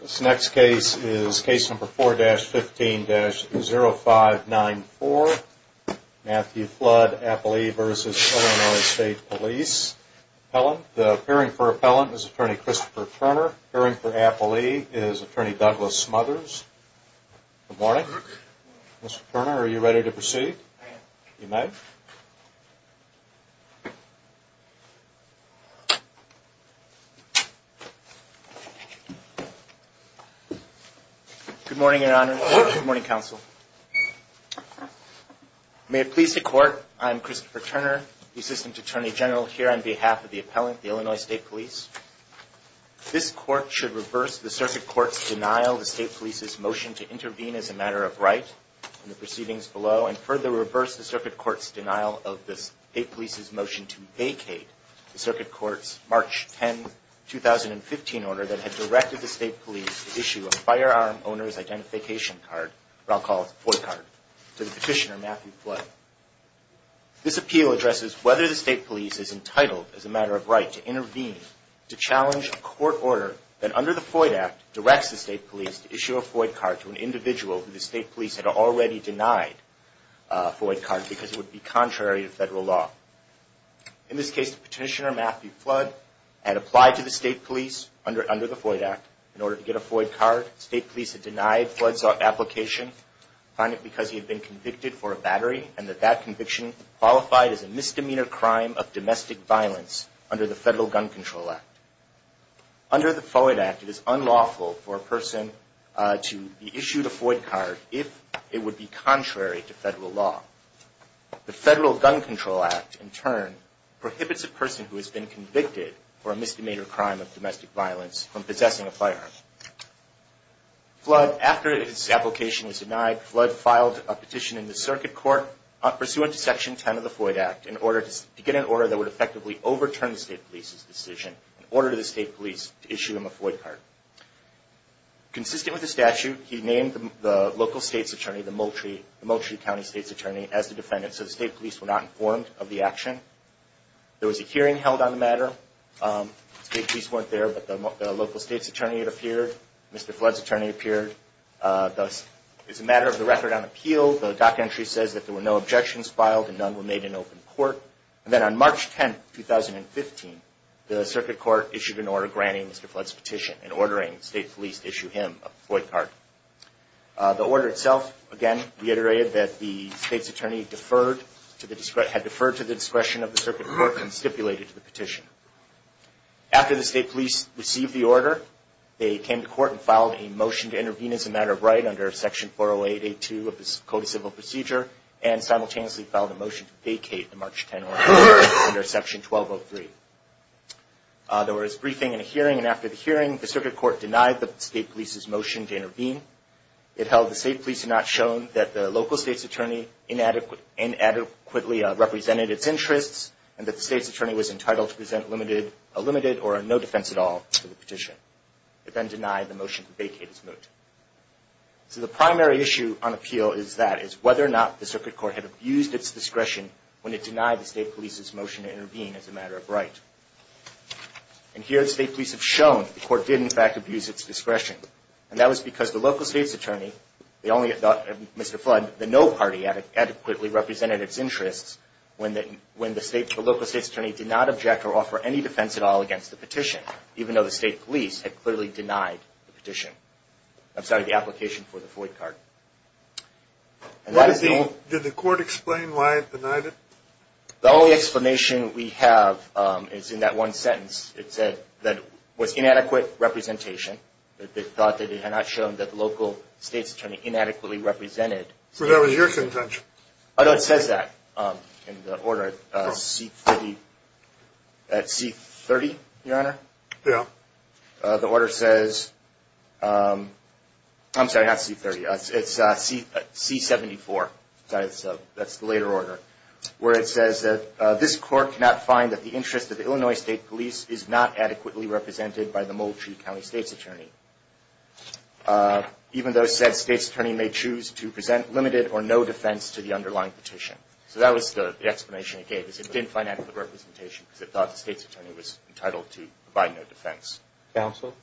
This next case is Case No. 4-15-0594, Matthew Flood, Appellee v. Illinois State Police Appellant. The appearing for Appellant is Attorney Christopher Turner. Appearing for Appellee is Attorney Douglas Smothers. Good morning. Good morning. Mr. Turner, are you ready to proceed? I am. You may. Good morning, Your Honor. Good morning, Counsel. May it please the Court, I am Christopher Turner, Assistant Attorney General here on behalf of the Appellant, the Illinois State Police. This Court should reverse the Circuit Court's denial of the State Police's motion to intervene as a matter of right in the proceedings below and further reverse the Circuit Court's denial of the State Police's motion to vacate the Circuit Court's March 10, 2015 order that had directed the State Police to issue a Firearm Owner's Identification Card, or I'll call it FOID card, to the Petitioner Matthew Flood. This appeal addresses whether the State Police is entitled as a matter of right to intervene to challenge a court order that under the FOID Act directs the State Police to issue a FOID card to an individual who the State Police had already denied a FOID card because it would be contrary to federal law. In this case, the Petitioner Matthew Flood had applied to the State Police under the FOID Act. In order to get a FOID card, the State Police had denied Flood's application, finding it because he had been convicted for a battery and that that conviction qualified as a misdemeanor crime of domestic violence under the Federal Gun Control Act. Under the FOID Act, it is unlawful for a person to be issued a FOID card if it would be contrary to federal law. The Federal Gun Control Act, in turn, prohibits a person who has been convicted for a misdemeanor crime of domestic violence from possessing a firearm. Flood, after his application was denied, Flood filed a petition in the Circuit Court pursuant to Section 10 of the FOID Act to get an order that would effectively overturn the State Police's decision in order for the State Police to issue him a FOID card. Consistent with the statute, he named the local State's Attorney, the Moultrie County State's Attorney, as the defendant so the State Police were not informed of the action. There was a hearing held on the matter. The State Police weren't there, but the local State's Attorney had appeared. Mr. Flood's attorney appeared. It's a matter of the record on appeal. The documentary says that there were no objections filed and none were made in open court. And then on March 10, 2015, the Circuit Court issued an order granting Mr. Flood's petition and ordering the State Police to issue him a FOID card. The order itself, again, reiterated that the State's Attorney had deferred to the discretion of the Circuit Court and stipulated the petition. After the State Police received the order, they came to court and filed a motion to intervene as a matter of right under Section 408.82 of the Code of Civil Procedure and simultaneously filed a motion to vacate the March 10 order under Section 1203. There was a briefing and a hearing, and after the hearing, the Circuit Court denied the State Police's motion to intervene. It held the State Police had not shown that the local State's Attorney inadequately represented its interests and that the State's Attorney was entitled to present a limited or no defense at all to the petition. It then denied the motion to vacate his moot. So the primary issue on appeal is that, is whether or not the Circuit Court had abused its discretion when it denied the State Police's motion to intervene as a matter of right. And here, the State Police have shown that the court did, in fact, abuse its discretion. And that was because the local State's Attorney, Mr. Flood, the no party adequately represented its interests when the local State's Attorney did not object or offer any defense at all against the petition, even though the State Police had clearly denied the petition. I'm sorry, the application for the Floyd card. Did the court explain why it denied it? The only explanation we have is in that one sentence. It said that it was inadequate representation. It thought that it had not shown that the local State's Attorney inadequately represented. So that was your contention. Oh, no, it says that in the order at C-30, Your Honor. Yeah. The order says, I'm sorry, not C-30, it's C-74. That's the later order. Where it says that this court cannot find that the interest of the Illinois State Police is not adequately represented by the Moultrie County State's Attorney, even though it said State's Attorney may choose to present limited or no defense to the underlying petition. So that was the explanation it gave. It didn't find adequate representation because it thought the State's Attorney was entitled to provide no defense. Counsel?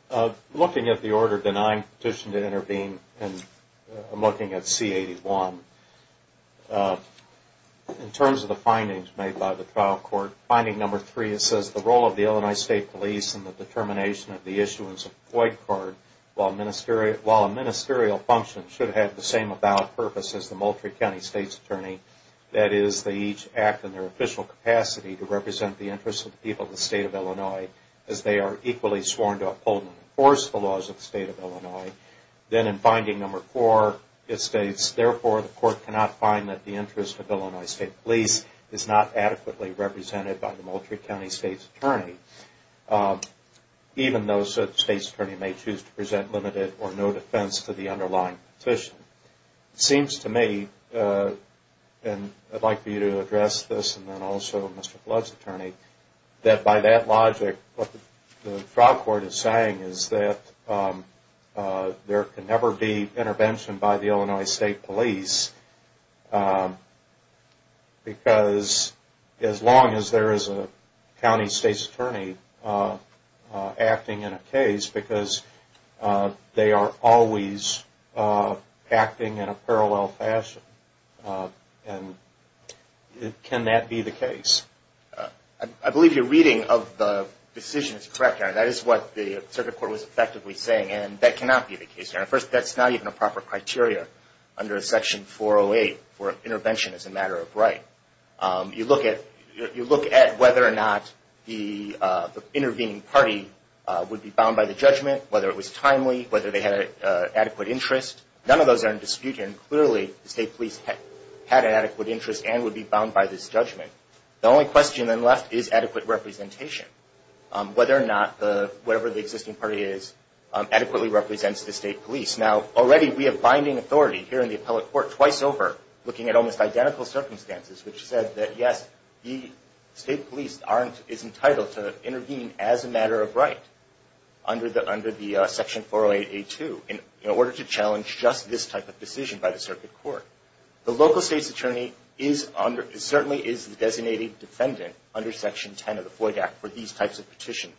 Looking at the order denying the petition to intervene, I'm looking at C-81. In terms of the findings made by the trial court, finding number three, it says the role of the Illinois State Police in the determination of the issuance of the Floyd card, while a ministerial function should have the same about purpose as the Moultrie County State's Attorney, that is they each act in their official capacity to represent the interests of the people of the State of Illinois, as they are equally sworn to uphold and enforce the laws of the State of Illinois. Then in finding number four, it states, therefore the court cannot find that the interest of Illinois State Police is not adequately represented by the Moultrie County State's Attorney, even though State's Attorney may choose to present limited or no defense to the underlying petition. It seems to me, and I'd like for you to address this and then also Mr. Flood's attorney, that by that logic, what the trial court is saying is that there can never be intervention by the Illinois State Police, because as long as there is a county State's Attorney acting in a case, because they are always acting in a parallel fashion, and can that be the case? I believe your reading of the decision is correct, and that is what the circuit court was effectively saying, and that cannot be the case. First, that's not even a proper criteria under section 408 for intervention as a matter of right. You look at whether or not the intervening party would be bound by the judgment, whether it was timely, whether they had an adequate interest. None of those are in dispute, and clearly the State Police had an adequate interest and would be bound by this judgment. The only question then left is adequate representation, whether or not whatever the existing party is adequately represents the State Police. Now, already we have binding authority here in the appellate court twice over, looking at almost identical circumstances, which said that, yes, the State Police is entitled to intervene as a matter of right under the section 408A2, in order to challenge just this type of decision by the circuit court. The local state's attorney certainly is the designated defendant under section 10 of the Floyd Act for these types of petitions.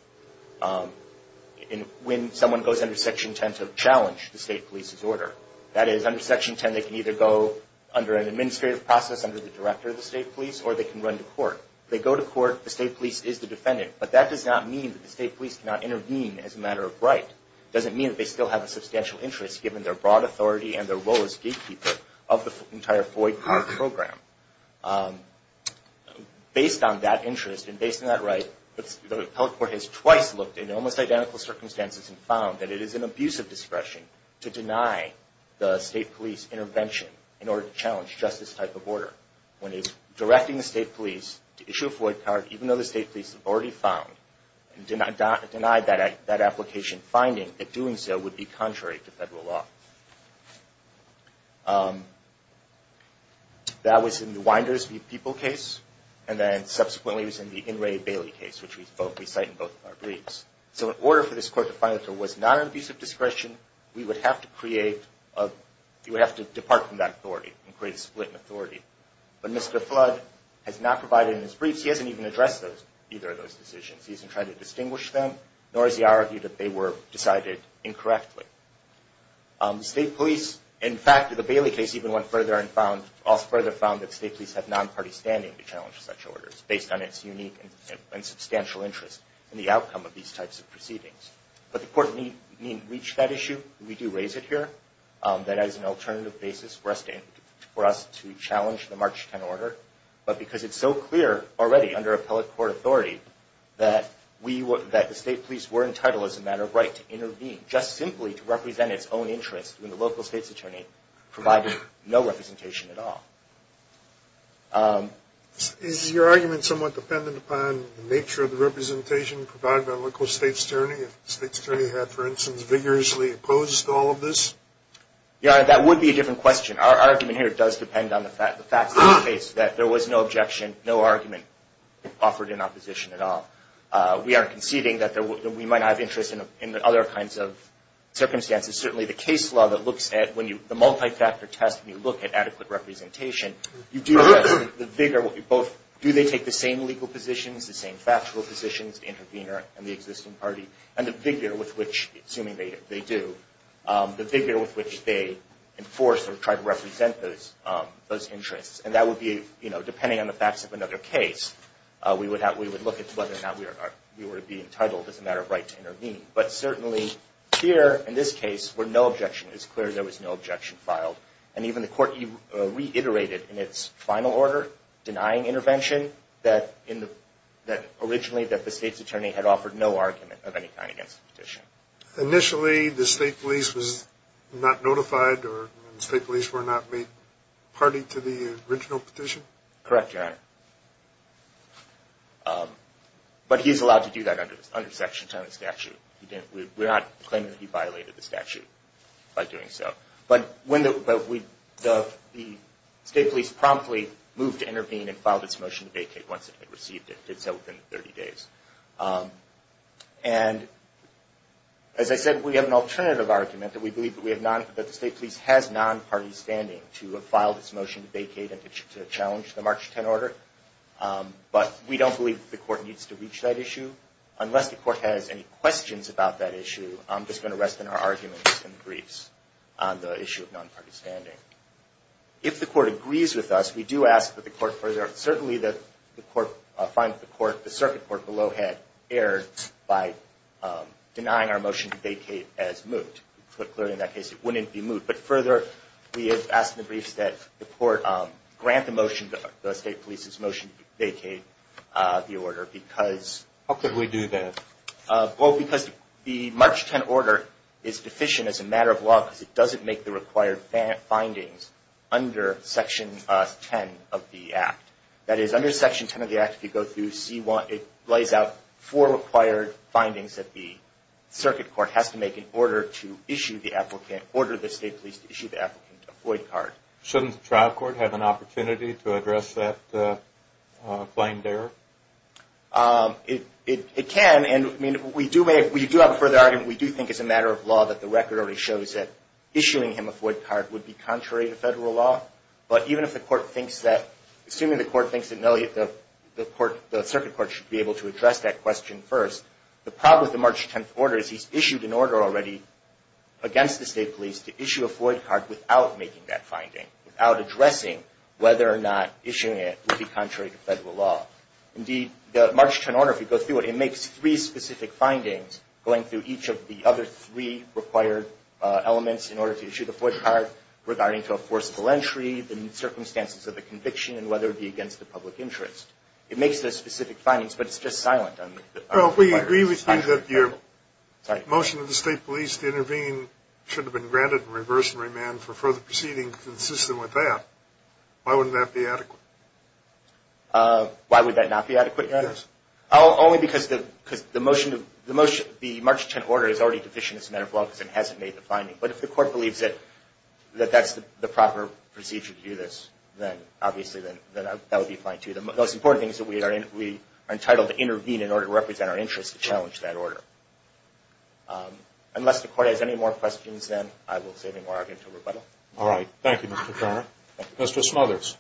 When someone goes under section 10 to challenge the State Police's order, that is, under section 10 they can either go under an administrative process under the director of the State Police, or they can run to court. If they go to court, the State Police is the defendant, but that does not mean that the State Police cannot intervene as a matter of right. It doesn't mean that they still have a substantial interest, given their broad authority and their role as gatekeeper of the entire Floyd card program. Based on that interest and based on that right, the appellate court has twice looked in almost identical circumstances and found that it is an abuse of discretion to deny the State Police intervention in order to challenge just this type of order. When it is directing the State Police to issue a Floyd card, even though the State Police have already found and denied that application, finding that doing so would be contrary to federal law. That was in the Winders v. People case, and then subsequently it was in the Inouye Bailey case, which we cite in both of our briefs. So in order for this court to find that there was not an abuse of discretion, we would have to depart from that authority and create a split in authority. But Mr. Flood has not provided in his briefs, he hasn't even addressed either of those decisions. He hasn't tried to distinguish them, nor has he argued that they were decided incorrectly. The State Police, in fact, in the Bailey case, even went further and found that the State Police have non-party standing to challenge such orders, based on its unique and substantial interest in the outcome of these types of proceedings. But the court didn't reach that issue. We do raise it here, that as an alternative basis for us to challenge the March 10 order, but because it's so clear already under appellate court authority that the State Police were entitled as a matter of right to intervene, just simply to represent its own interest when the local state's attorney provided no representation at all. Is your argument somewhat dependent upon the nature of the representation provided by a local state's attorney, if the state's attorney had, for instance, vigorously opposed all of this? Your Honor, that would be a different question. Our argument here does depend on the facts of the case, that there was no objection, no argument offered in opposition at all. We aren't conceding that we might not have interest in other kinds of circumstances. Certainly, the case law that looks at the multi-factor test, when you look at adequate representation, you do address the vigor. Do they take the same legal positions, the same factual positions, the intervener and the existing party, and the vigor with which, assuming they do, the vigor with which they enforce or try to represent those interests? And that would be, depending on the facts of another case, we would look at whether or not we would be entitled as a matter of right to intervene. But certainly here, in this case, where no objection is clear, there was no objection filed. And even the court reiterated in its final order, denying intervention, that originally the state's attorney had offered no argument of any kind against the petition. Initially, the state police was not notified, or the state police were not made party to the original petition? Correct, Your Honor. But he's allowed to do that under section 10 of the statute. We're not claiming that he violated the statute by doing so. But the state police promptly moved to intervene and filed its motion to vacate once it had received it. It did so within 30 days. And, as I said, we have an alternative argument that we believe that the state police has non-party standing to have filed its motion to vacate and to challenge the March 10 order. But we don't believe that the court needs to reach that issue. Unless the court has any questions about that issue, I'm just going to rest in our arguments and briefs on the issue of non-party standing. If the court agrees with us, we do ask that the court further, Certainly, the circuit court below had erred by denying our motion to vacate as moot. Put clearly in that case, it wouldn't be moot. But further, we have asked in the briefs that the court grant the state police's motion to vacate the order because How could we do that? Well, because the March 10 order is deficient as a matter of law because it doesn't make the required findings under Section 10 of the Act. That is, under Section 10 of the Act, if you go through, it lays out four required findings that the circuit court has to make in order to issue the applicant, order the state police to issue the applicant a void card. Shouldn't the trial court have an opportunity to address that claimed error? It can, and we do have a further argument. We do think as a matter of law that the record already shows that issuing him a void card would be contrary to federal law. But even if the court thinks that, assuming the court thinks that no, the circuit court should be able to address that question first, the problem with the March 10 order is he's issued an order already against the state police to issue a void card without making that finding, without addressing whether or not issuing it would be contrary to federal law. Indeed, the March 10 order, if you go through it, it makes three specific findings going through each of the other three required elements in order to issue the void card regarding to a forcible entry, the circumstances of the conviction, and whether it be against the public interest. It makes those specific findings, but it's just silent. Well, if we agree with you that your motion of the state police to intervene should have been granted and reversed and remanded for further proceedings consistent with that, why wouldn't that be adequate? Why would that not be adequate, Your Honor? Yes. Only because the motion of the March 10 order is already deficient as a matter of law because it hasn't made the finding. But if the court believes that that's the proper procedure to do this, then obviously that would be fine, too. The most important thing is that we are entitled to intervene in order to represent our interests and challenge that order. Unless the court has any more questions, then I will say no more argument until rebuttal. Thank you, Mr. Conner. Thank you. Mr. Smothers.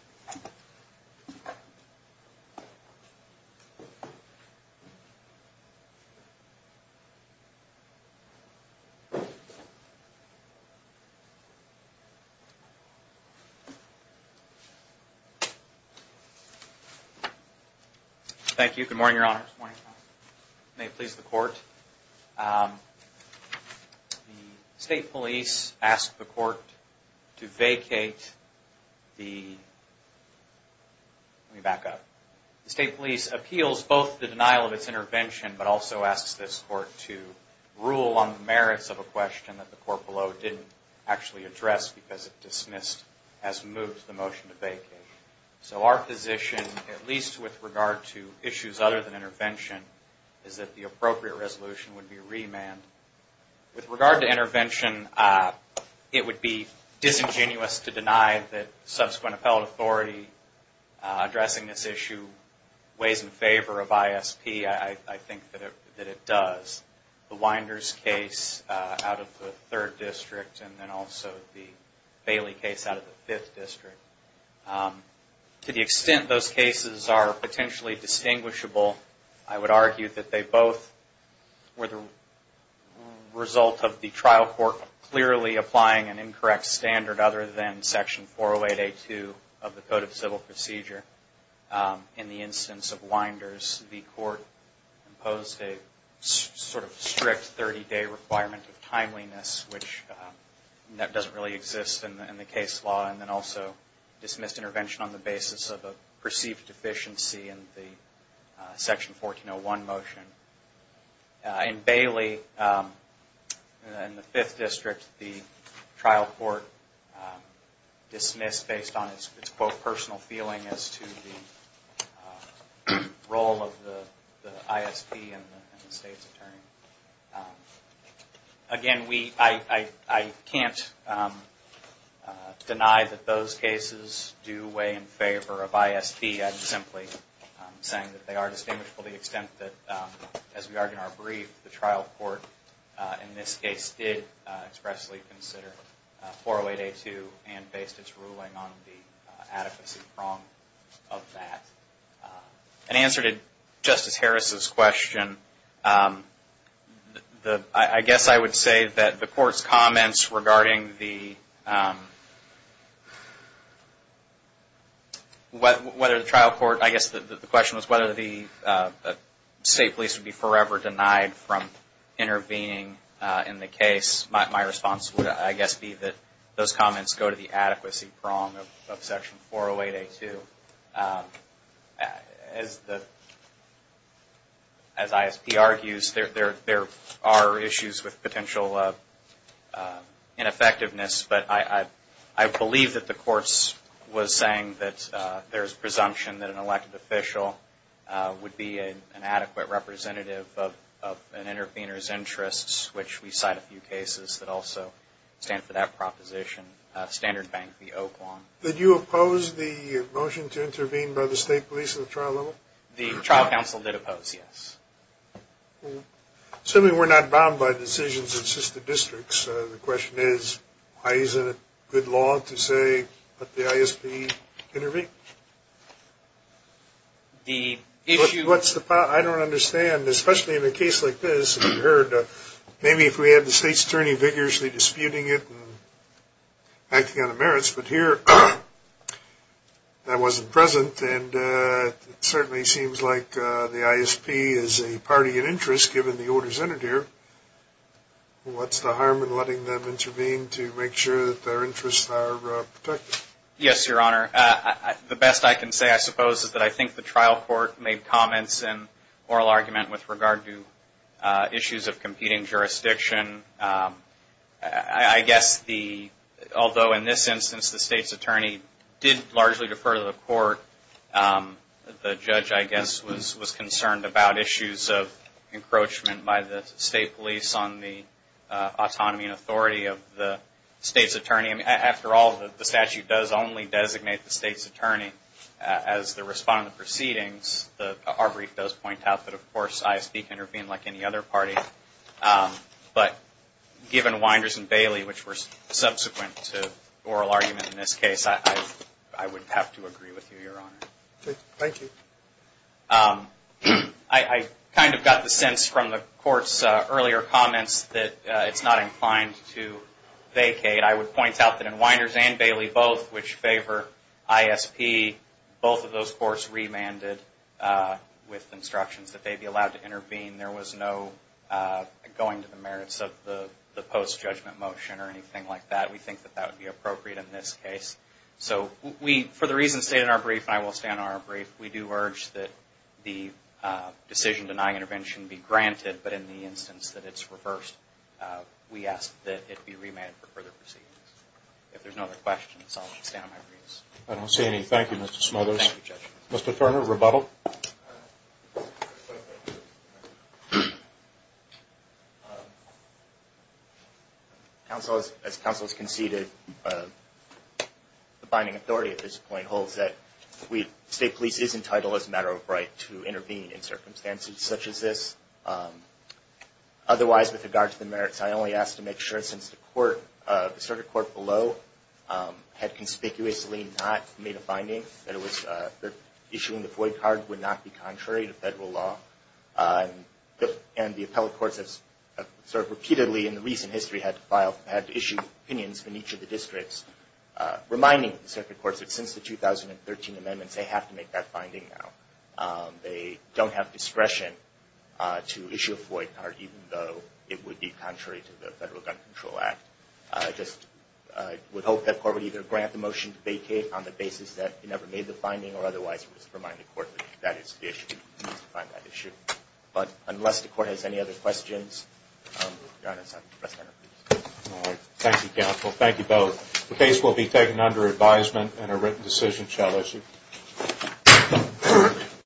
Thank you. Good morning, Your Honor. Good morning. May it please the Court. The state police asked the Court to vacate the... Let me back up. The state police appeals both the denial of its intervention but also asks this Court to rule on the merits of a question that the court below didn't actually address because it dismissed as moved the motion to vacate. So our position, at least with regard to issues other than intervention, is that the appropriate resolution would be remanded. With regard to intervention, it would be disingenuous to deny that subsequent appellate authority addressing this issue weighs in favor of ISP. I think that it does. The Winders case out of the 3rd District and then also the Bailey case out of the 5th District. To the extent those cases are potentially distinguishable, I would argue that they both were the result of the trial court clearly applying an incorrect standard other than Section 408A2 of the Code of Civil Procedure. In the instance of Winders, the court imposed a sort of strict 30-day requirement of timeliness, which doesn't really exist in the case law, and then also dismissed intervention on the basis of a perceived deficiency in the Section 1401 motion. In Bailey, in the 5th District, the trial court dismissed based on its, quote, personal feeling as to the role of the ISP and the state's attorney. Again, I can't deny that those cases do weigh in favor of ISP. I'm simply saying that they are distinguishable to the extent that, as we argued in our brief, the trial court in this case did expressly consider 408A2 and based its ruling on the adequacy wrong of that. In answer to Justice Harris' question, I guess I would say that the court's comments regarding the whether the trial court, I guess the question was whether the state police would be forever denied from intervening in the case. My response would, I guess, be that those comments go to the adequacy wrong of Section 408A2. As ISP argues, there are issues with potential ineffectiveness, but I believe that the courts was saying that there's presumption that an elected official would be an adequate representative of an intervener's interests, which we cite a few cases that also stand for that proposition. Standard Bank v. Oklahoma. Did you oppose the motion to intervene by the state police at the trial level? The trial counsel did oppose, yes. Assuming we're not bound by decisions in assisted districts, the question is, why isn't it good law to say that the ISP intervened? I don't understand, especially in a case like this. Maybe if we had the state's attorney vigorously disputing it and acting on the merits, but here that wasn't present, and it certainly seems like the ISP is a party in interest, given the orders entered here. What's the harm in letting them intervene to make sure that their interests are protected? Yes, Your Honor, the best I can say, I suppose, is that I think the trial court made comments and oral argument with regard to issues of competing jurisdiction. I guess, although in this instance the state's attorney did largely defer to the court, the judge, I guess, was concerned about issues of encroachment by the state police on the autonomy and authority of the state's attorney. After all, the statute does only designate the state's attorney as the respondent proceedings. Our brief does point out that, of course, ISP can intervene like any other party, but given Winders and Bailey, which were subsequent to oral argument in this case, I would have to agree with you, Your Honor. Thank you. I kind of got the sense from the court's earlier comments that it's not inclined to vacate. I would point out that in Winders and Bailey both, which favor ISP, both of those courts remanded with instructions that they be allowed to intervene. There was no going to the merits of the post-judgment motion or anything like that. We think that that would be appropriate in this case. So for the reasons stated in our brief, and I will stand on our brief, we do urge that the decision-denying intervention be granted, but in the instance that it's reversed, we ask that it be remanded for further proceedings. If there's no other questions, I'll stand on my brief. I don't see any. Thank you, Mr. Smothers. Thank you, Judge. Mr. Turner, rebuttal. As counsel has conceded, the binding authority at this point holds that state police is entitled, as a matter of right, to intervene in circumstances such as this. Otherwise, with regard to the merits, I only ask to make sure, since the court, the circuit court below had conspicuously not made a finding that it was, that issuing the void card would not be contrary to federal law, and the appellate courts have sort of repeatedly in the recent history had to file, had to issue opinions from each of the districts reminding the circuit courts that since the 2013 amendments, they have to make that finding now. They don't have discretion to issue a void card, even though it would be contrary to the Federal Gun Control Act. I just would hope that the court would either grant the motion to vacate on the basis that it never made the finding, or otherwise remind the court that that is the issue. But unless the court has any other questions, I'll stand on my brief. Thank you, counsel. Thank you both. The case will be taken under advisement and a written decision shall issue.